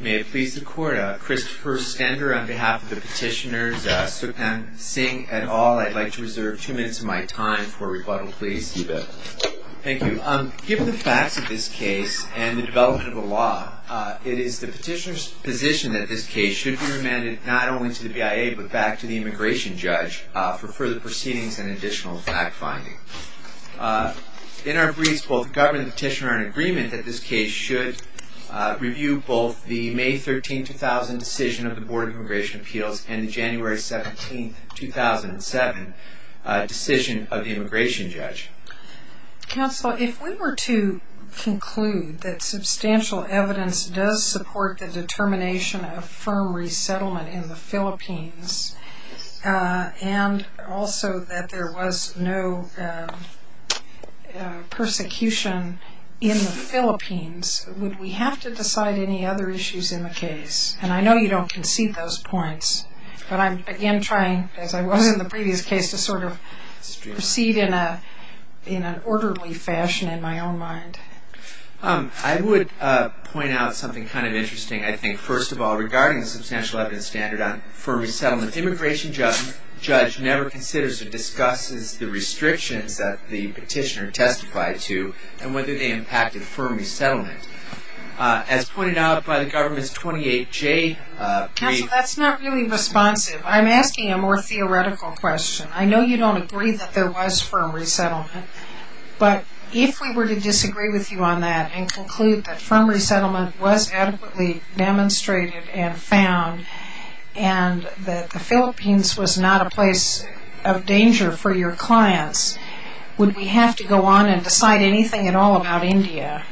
May it please the court, Christopher Stender on behalf of the petitioners, Sukhnand Singh et al. I'd like to reserve two minutes of my time for rebuttal, please. You bet. Thank you. Given the facts of this case and the development of the law, it is the petitioner's position that this case should be remanded not only to the BIA, but back to the immigration judge for further proceedings and additional fact-finding. In our briefs, both the government and the petitioner are in agreement that this case should review both the May 13, 2000 decision of the Board of Immigration Appeals and the January 17, 2007 decision of the immigration judge. Counsel, if we were to conclude that substantial evidence does support the determination of firm resettlement in the Philippines and also that there was no persecution in the Philippines, would we have to decide any other issues in the case? And I know you don't concede those points, but I'm again trying, as I was in the previous case, to sort of proceed in an orderly fashion in my own mind. I would point out something kind of interesting. I think, first of all, regarding the substantial evidence standard on firm resettlement, the immigration judge never considers or discusses the restrictions that the petitioner testified to and whether they impacted firm resettlement. As pointed out by the government's 28J brief... Counsel, that's not really responsive. I'm asking a more theoretical question. I know you don't agree that there was firm resettlement, but if we were to disagree with you on that and conclude that firm resettlement was adequately demonstrated and found and that the Philippines was not a place of danger for your clients, would we have to go on and decide anything at all about India?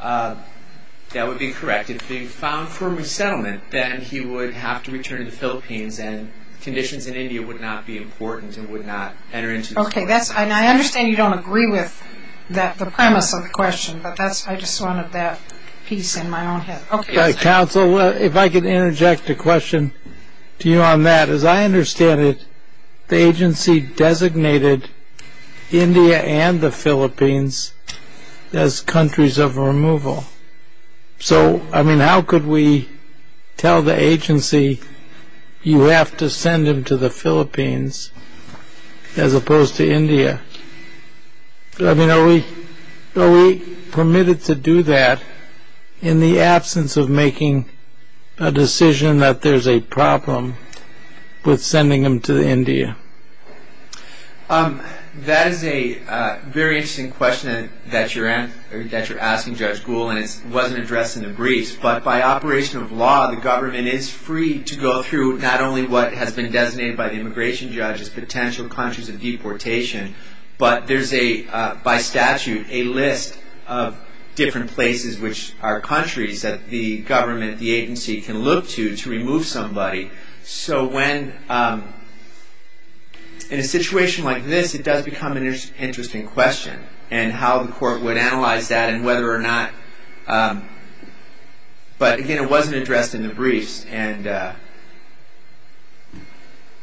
That would be correct. If he found firm resettlement, then he would have to return to the Philippines and conditions in India would not be important and would not enter into... Okay. I understand you don't agree with the premise of the question, but I just wanted that piece in my own head. Counsel, if I could interject a question to you on that. As I understand it, the agency designated India and the Philippines as countries of removal. So, I mean, how could we tell the agency, you have to send him to the Philippines as opposed to India? I mean, are we permitted to do that in the absence of making a decision that there's a problem with sending him to India? That is a very interesting question that you're asking, Judge Gould, and it wasn't addressed in the briefs. But by operation of law, the government is free to go through not only what has been designated by the immigration judge as potential countries of deportation, but there's a, by statute, a list of different places which are countries that the government, the agency, can look to to remove somebody. So when, in a situation like this, it does become an interesting question and how the court would analyze that and whether or not, but again, it wasn't addressed in the briefs, and I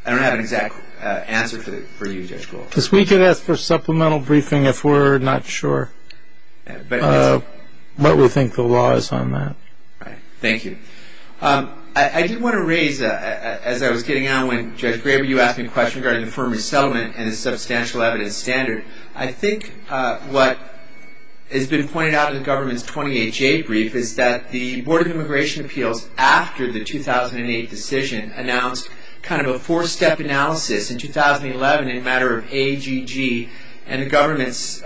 don't have an exact answer for you, Judge Gould. Because we could ask for supplemental briefing if we're not sure what we think the law is on that. Thank you. I did want to raise, as I was getting on, when Judge Graber, you asked me a question regarding the firm resettlement and the substantial evidence standard, I think what has been pointed out in the government's 28-J brief is that the Board of Immigration Appeals, after the 2008 decision, announced kind of a four-step analysis in 2011 in a matter of AGG, and the government's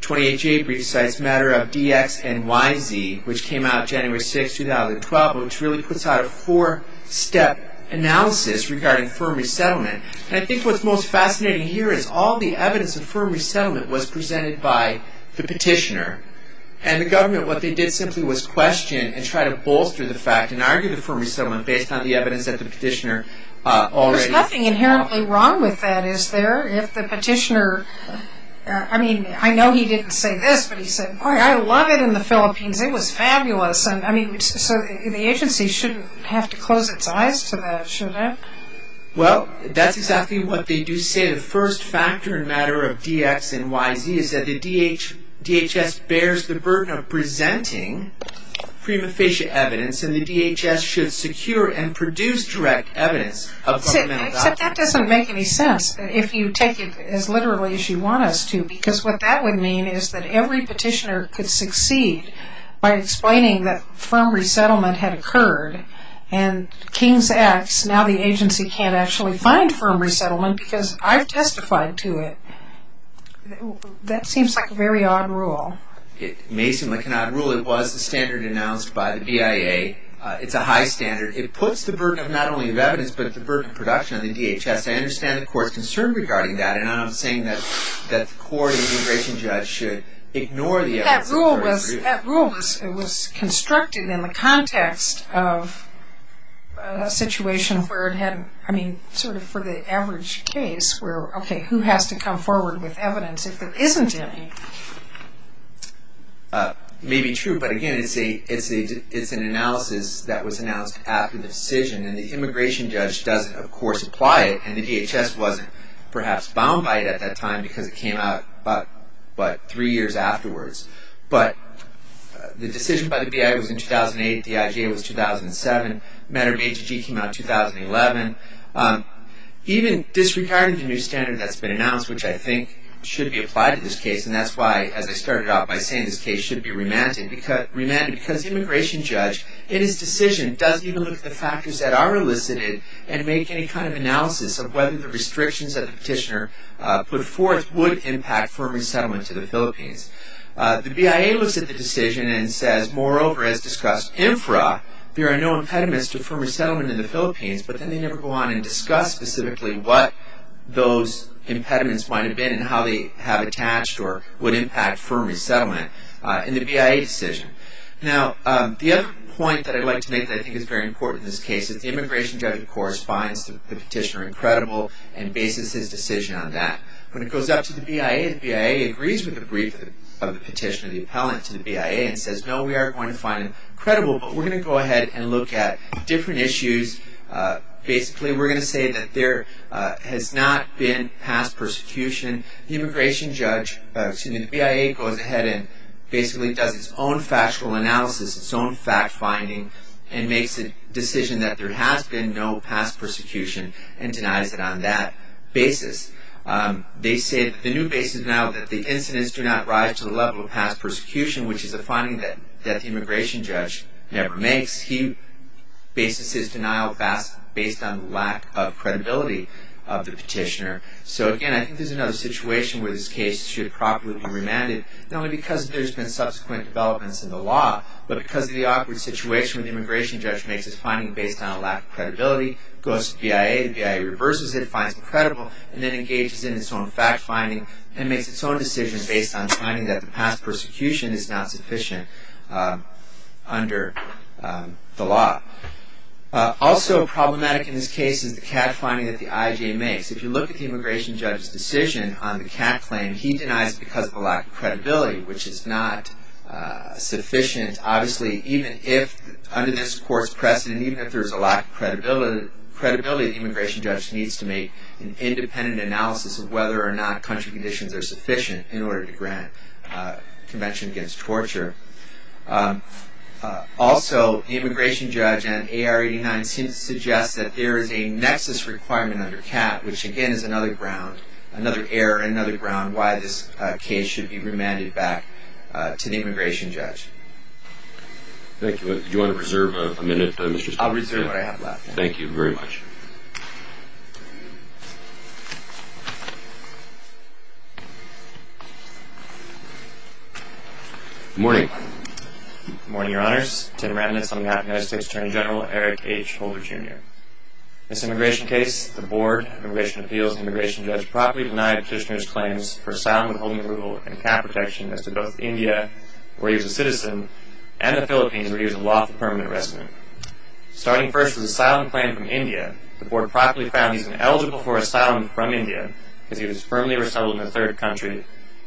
28-J brief cites a matter of DX and YZ, which came out January 6, 2012, which really puts out a four-step analysis regarding firm resettlement. And I think what's most fascinating here is all the evidence of firm resettlement was presented by the petitioner. And the government, what they did simply was question and try to bolster the fact and argue the firm resettlement based on the evidence that the petitioner already... There's nothing inherently wrong with that, is there? If the petitioner, I mean, I know he didn't say this, but he said, boy, I love it in the Philippines, it was fabulous. I mean, so the agency shouldn't have to close its eyes to that, should it? Well, that's exactly what they do say. The first factor in a matter of DX and YZ is that the DHS bears the burden of presenting prima facie evidence, and the DHS should secure and produce direct evidence of governmental doctrine. Except that doesn't make any sense if you take it as literally as you want us to, because what that would mean is that every petitioner could succeed by explaining that firm resettlement had occurred, and King's X, now the agency can't actually find firm resettlement because I've testified to it. That seems like a very odd rule. It may seem like an odd rule. It was the standard announced by the BIA. It's a high standard. It puts the burden not only of evidence, but the burden of production on the DHS. I understand the court's concern regarding that, and I'm not saying that the court or the immigration judge should ignore the evidence... That rule was constructed in the context of a situation where it had... I mean, sort of for the average case, where, okay, who has to come forward with evidence if there isn't any? Maybe true, but again, it's an analysis that was announced after the decision, and the immigration judge doesn't, of course, apply it, and the DHS wasn't perhaps bound by it at that time because it came out about three years afterwards. But the decision by the BIA was in 2008. The IGA was 2007. Matter of ATG came out in 2011. Even disregarding the new standard that's been announced, which I think should be applied to this case, and that's why, as I started out by saying, this case should be remanded, because the immigration judge, in his decision, doesn't even look at the factors that are elicited and make any kind of analysis of whether the restrictions that the petitioner put forth would impact firm resettlement to the Philippines. The BIA looks at the decision and says, moreover, as discussed infra, there are no impediments to firm resettlement in the Philippines, but then they never go on and discuss specifically what those impediments might have been and how they have attached or would impact firm resettlement in the BIA decision. Now, the other point that I'd like to make that I think is very important in this case is the immigration judge, of course, finds the petitioner incredible and bases his decision on that. When it goes up to the BIA, the BIA agrees with the brief of the petitioner, the appellant to the BIA, and says, no, we are going to find him incredible, but we're going to go ahead and look at different issues. Basically, we're going to say that there has not been past persecution. The BIA goes ahead and basically does its own factual analysis, its own fact-finding, and makes a decision that there has been no past persecution and denies it on that basis. They say that the new basis is now that the incidents do not rise to the level of past persecution, which is a finding that the immigration judge never makes. He bases his denial based on the lack of credibility of the petitioner. So, again, I think there's another situation where this case should properly be remanded, not only because there's been subsequent developments in the law, goes to the BIA, the BIA reverses it, finds him incredible, and then engages in its own fact-finding and makes its own decision based on finding that the past persecution is not sufficient under the law. Also problematic in this case is the CAT finding that the IJ makes. If you look at the immigration judge's decision on the CAT claim, he denies it because of a lack of credibility, which is not sufficient. Obviously, even if under this court's precedent, even if there's a lack of credibility, the immigration judge needs to make an independent analysis of whether or not country conditions are sufficient in order to grant Convention Against Torture. Also, the immigration judge and AR-89 seem to suggest that there is a nexus requirement under CAT, which again is another ground, another error, another ground why this case should be remanded back to the immigration judge. Thank you. Do you want to reserve a minute, Mr. Spadafore? I'll reserve what I have left. Thank you very much. Good morning. Good morning, Your Honors. Tim Remnitz on behalf of United States Attorney General Eric H. Holder, Jr. This immigration case, the Board of Immigration Appeals, and the immigration judge properly denied Kishner's claims for asylum withholding approval and CAT protection as to both India, where he was a citizen, and the Philippines, where he was a lawful permanent resident. Starting first with an asylum claim from India, the Board properly found he was ineligible for asylum from India because he was firmly resettled in a third country,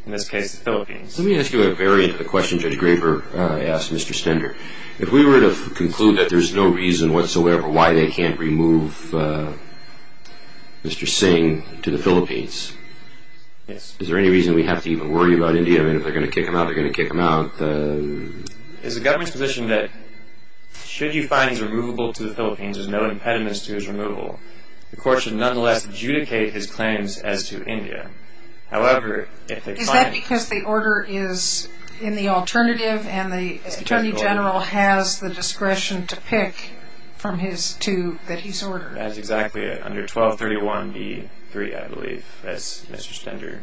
in this case the Philippines. Let me ask you a variant of the question Judge Graber asked Mr. Stender. If we were to conclude that there's no reason whatsoever why they can't remove Mr. Singh to the Philippines, is there any reason we have to even worry about India? I mean, if they're going to kick him out, they're going to kick him out. It's the government's position that should you find he's removable to the Philippines, there's no impediments to his removal. The court should nonetheless adjudicate his claims as to India. Is that because the order is in the alternative, and the Attorney General has the discretion to pick from his two that he's ordered? That's exactly it. Under 1231E3, I believe, as Mr. Stender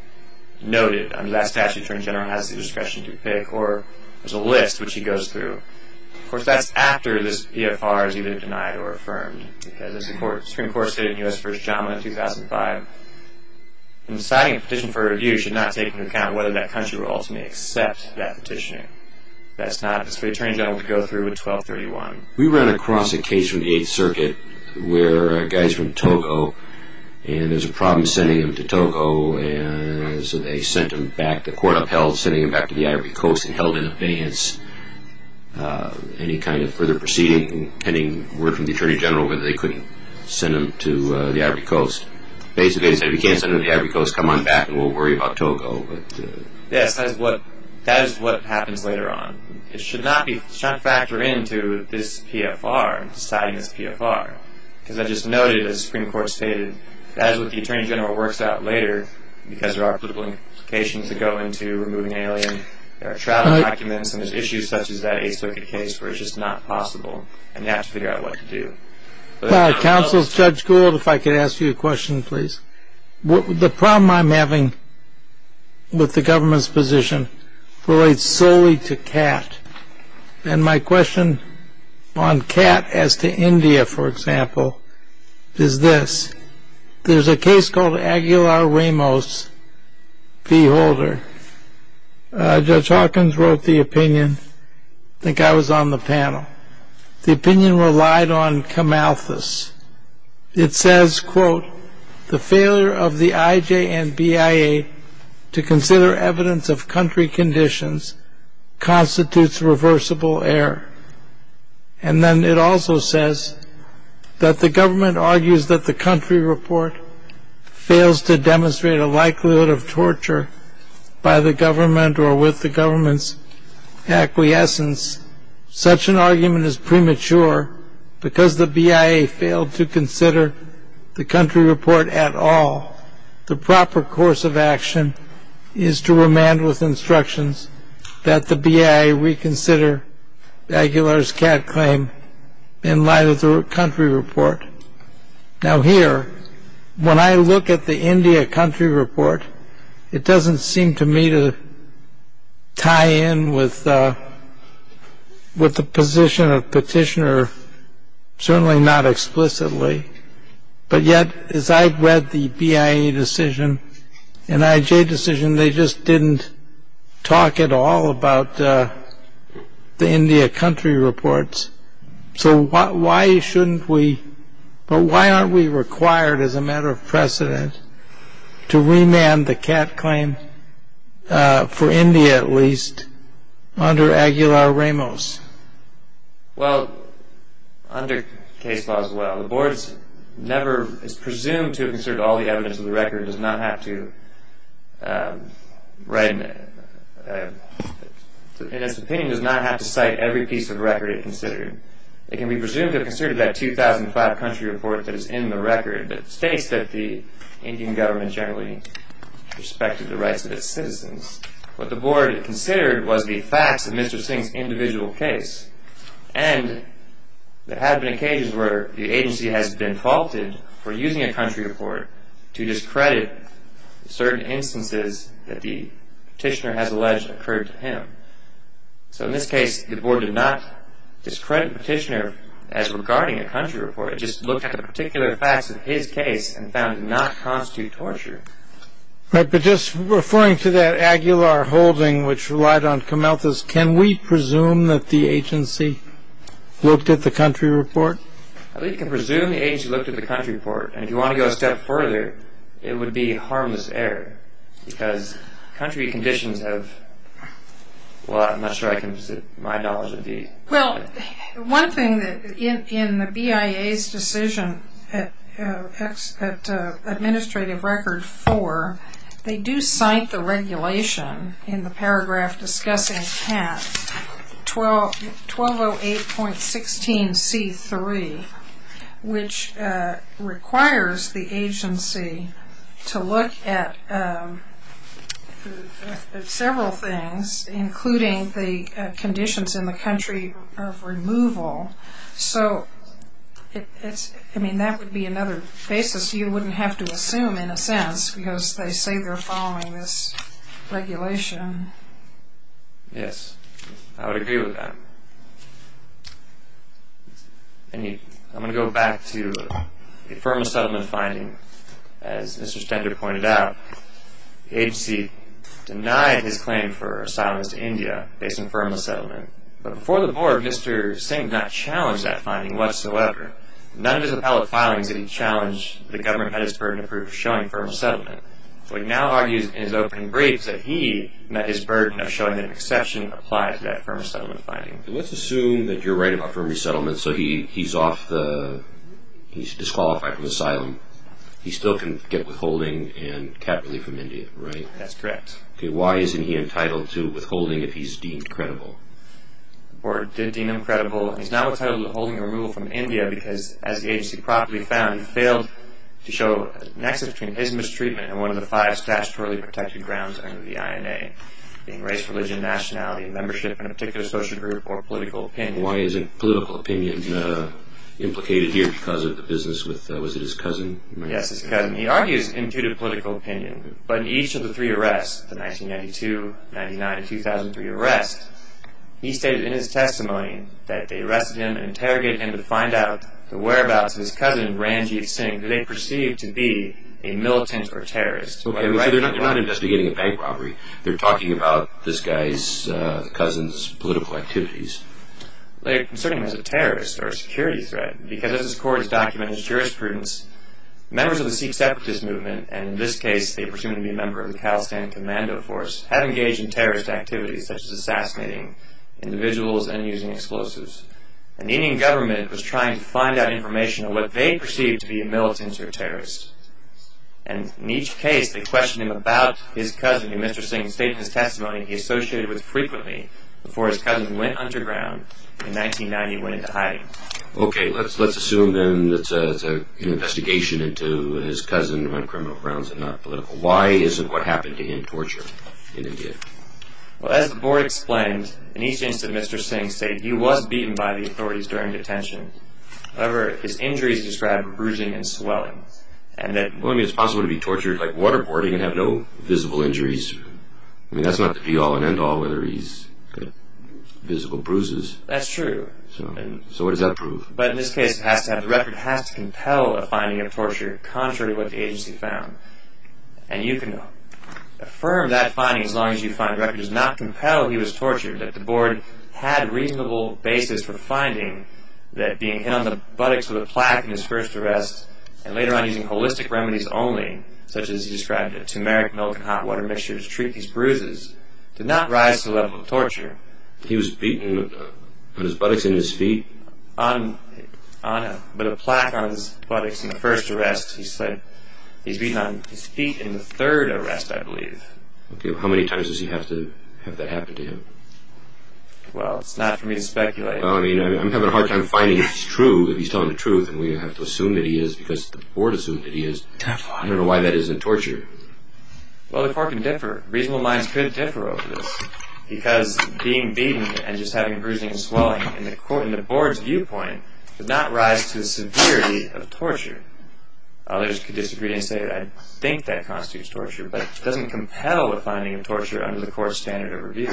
noted. Under that statute, the Attorney General has the discretion to pick, or there's a list which he goes through. Of course, that's after this PFR is either denied or affirmed. Supreme Court stated in U.S. v. JAMA 2005, in deciding a petition for review, you should not take into account whether that country will ultimately accept that petitioning. That's for the Attorney General to go through in 1231. We ran across a case from the 8th Circuit where a guy's from Togo, and there's a problem sending him to Togo, and so they sent him back. The court upheld sending him back to the Ivory Coast and held in abeyance any kind of further proceeding. Hitting word from the Attorney General whether they couldn't send him to the Ivory Coast. Basically, they said, if you can't send him to the Ivory Coast, come on back, and we'll worry about Togo. Yes, that is what happens later on. It should not factor into this PFR, deciding this PFR, because I just noted, as the Supreme Court stated, that is what the Attorney General works out later, and there are travel documents and there's issues such as that 8th Circuit case where it's just not possible, and you have to figure out what to do. Counsel Judge Gould, if I could ask you a question, please. The problem I'm having with the government's position relates solely to CAT, and my question on CAT as to India, for example, is this. There's a case called Aguilar-Ramos v. Holder. Judge Hawkins wrote the opinion. I think I was on the panel. The opinion relied on Camalthus. It says, quote, the failure of the IJ and BIA to consider evidence of country conditions constitutes reversible error. And then it also says that the government argues that the country report fails to demonstrate a likelihood of torture by the government or with the government's acquiescence. Such an argument is premature because the BIA failed to consider the country report at all. The proper course of action is to remand with instructions that the BIA reconsider Aguilar's CAT claim in light of the country report. Now, here, when I look at the India country report, it doesn't seem to me to tie in with the position of Petitioner, certainly not explicitly. But yet, as I've read the BIA decision and IJ decision, they just didn't talk at all about the India country reports. So why aren't we required, as a matter of precedent, to remand the CAT claim, for India at least, under Aguilar-Ramos? Well, under case law as well. The Board is presumed to have considered all the evidence of the record, and in its opinion does not have to cite every piece of record it considered. It can be presumed to have considered that 2005 country report that is in the record that states that the Indian government generally respected the rights of its citizens. What the Board considered was the facts of Mr. Singh's individual case. And there have been occasions where the agency has been faulted for using a country report to discredit certain instances that the Petitioner has alleged occurred to him. So in this case, the Board did not discredit Petitioner as regarding a country report. It just looked at the particular facts of his case and found it did not constitute torture. Right, but just referring to that Aguilar holding which relied on Kamalthus, can we presume that the agency looked at the country report? I believe you can presume the agency looked at the country report, and if you want to go a step further, it would be harmless error, because country conditions have, well, I'm not sure my knowledge of these. Well, one thing in the BIA's decision at Administrative Record 4, they do cite the regulation in the paragraph discussing CAT 1208.16c3, which requires the agency to look at several things, including the conditions in the country of removal. So that would be another basis you wouldn't have to assume, in a sense, because they say they're following this regulation. Yes, I would agree with that. I'm going to go back to the Affirmative Settlement finding. As Mr. Stender pointed out, the agency denied his claim for asylums to India, based on Affirmative Settlement, but before the board, Mr. Singh did not challenge that finding whatsoever. None of his appellate filings did he challenge, but the government had his burden of proof showing Affirmative Settlement. What he now argues in his opening brief is that he met his burden of showing an exception applied to that Affirmative Settlement finding. Let's assume that you're right about Affirmative Settlement, so he's disqualified from asylum. He still can get withholding and CAT relief from India, right? That's correct. Why isn't he entitled to withholding if he's deemed credible? The board did deem him credible. He's not entitled to withholding or removal from India because, as the agency promptly found, he failed to show an access between his mistreatment and one of the five statutorily protected grounds under the INA, being race, religion, nationality, membership in a particular social group, or political opinion. Why isn't political opinion implicated here because of the business with, was it his cousin? Yes, his cousin. He argues imputed political opinion, but in each of the three arrests, the 1992, 1999, and 2003 arrests, he stated in his testimony that they arrested him and interrogated him to find out the whereabouts of his cousin, Ranjit Singh, who they perceived to be a militant or terrorist. Okay, so they're not investigating a bank robbery. They're talking about this guy's cousin's political activities. They're considering him as a terrorist or a security threat because, as this court has documented as jurisprudence, members of the Sikh Separatist Movement, and in this case they are presumed to be a member of the Khalistan Commando Force, have engaged in terrorist activities such as assassinating individuals and using explosives. And the Indian government was trying to find out information on what they perceived to be a militant or terrorist. And in each case, they questioned him about his cousin, and Mr. Singh stated in his testimony he associated with frequently before his cousin went underground in 1990 and went into hiding. Okay, let's assume then that it's an investigation into his cousin on criminal grounds and not political. Why isn't what happened to him torture in India? Well, as the board explained, in each instance Mr. Singh stated he was beaten by the authorities during detention. However, his injuries describe bruising and swelling. Well, I mean, it's possible to be tortured like waterboarding and have no visible injuries. I mean, that's not to be all and end all whether he's got physical bruises. That's true. So what does that prove? But in this case, the record has to compel a finding of torture contrary to what the agency found. And you can affirm that finding as long as you find the record does not compel he was tortured, that the board had a reasonable basis for finding that being hit on the buttocks with a plaque in his first arrest and later on using holistic remedies only, such as he described a tumeric milk and hot water mixture to treat these bruises, did not rise to the level of torture. He was beaten on his buttocks and his feet? But a plaque on his buttocks in the first arrest. He's beaten on his feet in the third arrest, I believe. How many times does he have to have that happen to him? Well, it's not for me to speculate. Well, I mean, I'm having a hard time finding if he's true, if he's telling the truth, and we have to assume that he is because the board assumed that he is. I don't know why that isn't torture. Well, the court can differ. Reasonable minds could differ over this because being beaten and just having bruising and swelling in the board's viewpoint did not rise to the severity of torture. Others could disagree and say that I think that constitutes torture, but it doesn't compel a finding of torture under the court's standard of review.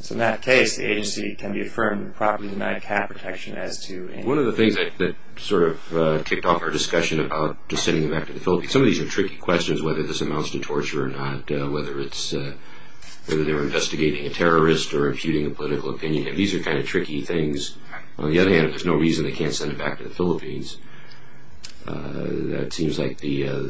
So in that case, the agency can be affirmed to properly deny cap protection as to any... One of the things that sort of kicked off our discussion about just sending him back to the Philippines, some of these are tricky questions whether this amounts to torture or not, whether they're investigating a terrorist or imputing a political opinion. These are kind of tricky things. On the other hand, if there's no reason they can't send him back to the Philippines, that seems like the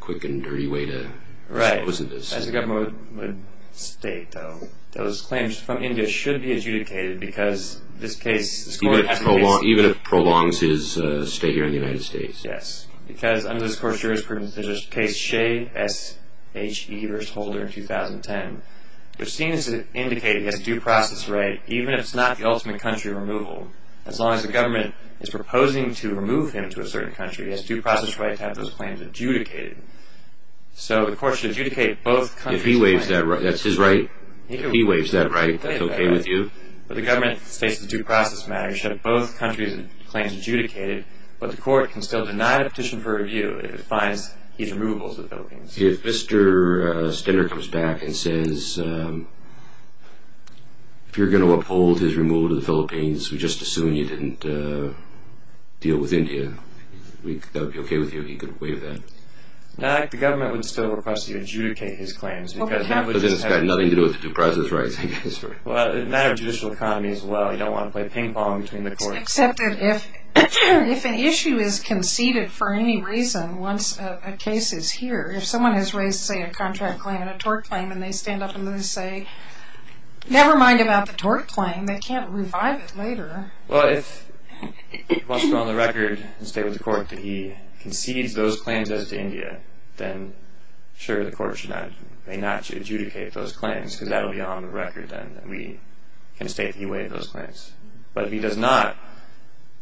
quick and dirty way to dispose of this. As the government would state, though, those claims from India should be adjudicated because this case... Even if it prolongs his stay here in the United States. Yes, because under this court's jurisprudence, there's a case, Shea v. Holder in 2010, which seems to indicate he has due process right even if it's not the ultimate country removal. As long as the government is proposing to remove him to a certain country, he has due process right to have those claims adjudicated. So the court should adjudicate both countries' claims. If he waives that right, that's his right? If he waives that right, that's okay with you? But the government states it's a due process matter. You should have both countries' claims adjudicated, but the court can still deny the petition for review if it finds he's removable to the Philippines. If Mr. Stender comes back and says, if you're going to uphold his removal to the Philippines, we just assume you didn't deal with India, that would be okay with you if he could waive that? The government would still request you adjudicate his claims. Okay. Because it's got nothing to do with due process rights, I guess. It's a matter of judicial economy as well. You don't want to play ping pong between the courts. Except that if an issue is conceded for any reason once a case is here, if someone has raised, say, a contract claim and a tort claim, and they stand up and they say, never mind about the tort claim. They can't revive it later. Well, if he wants to go on the record and state with the court that he concedes those claims as to India, then, sure, the court may not adjudicate those claims, because that will be on the record then, that we can state that he waived those claims. But if he does not,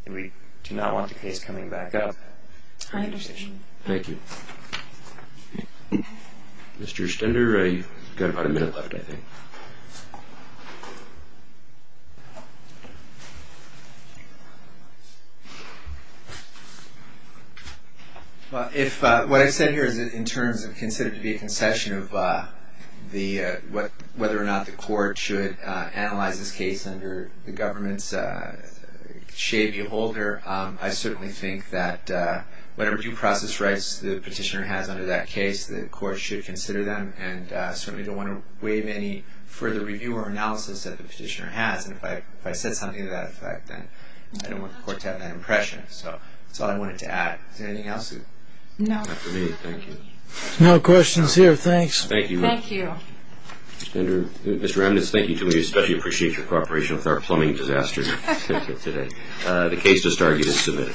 and we do not want the case coming back up. I understand. Thank you. Mr. Stender, you've got about a minute left, I think. Well, if what I've said here is in terms of considered to be a concession of whether or not the court should analyze this case under the government's shady holder, I certainly think that whatever due process rights the petitioner has under that case, the court should consider them. And I certainly don't want to waive any further review or analysis that the petitioner has. And if I said something to that effect, then I don't want the court to have that impression. So that's all I wanted to add. Is there anything else? No. Not for me. Thank you. No questions here. Thanks. Thank you. Thank you. Mr. Remnitz, thank you too. We especially appreciate your cooperation with our plumbing disaster today. The case to start is submitted.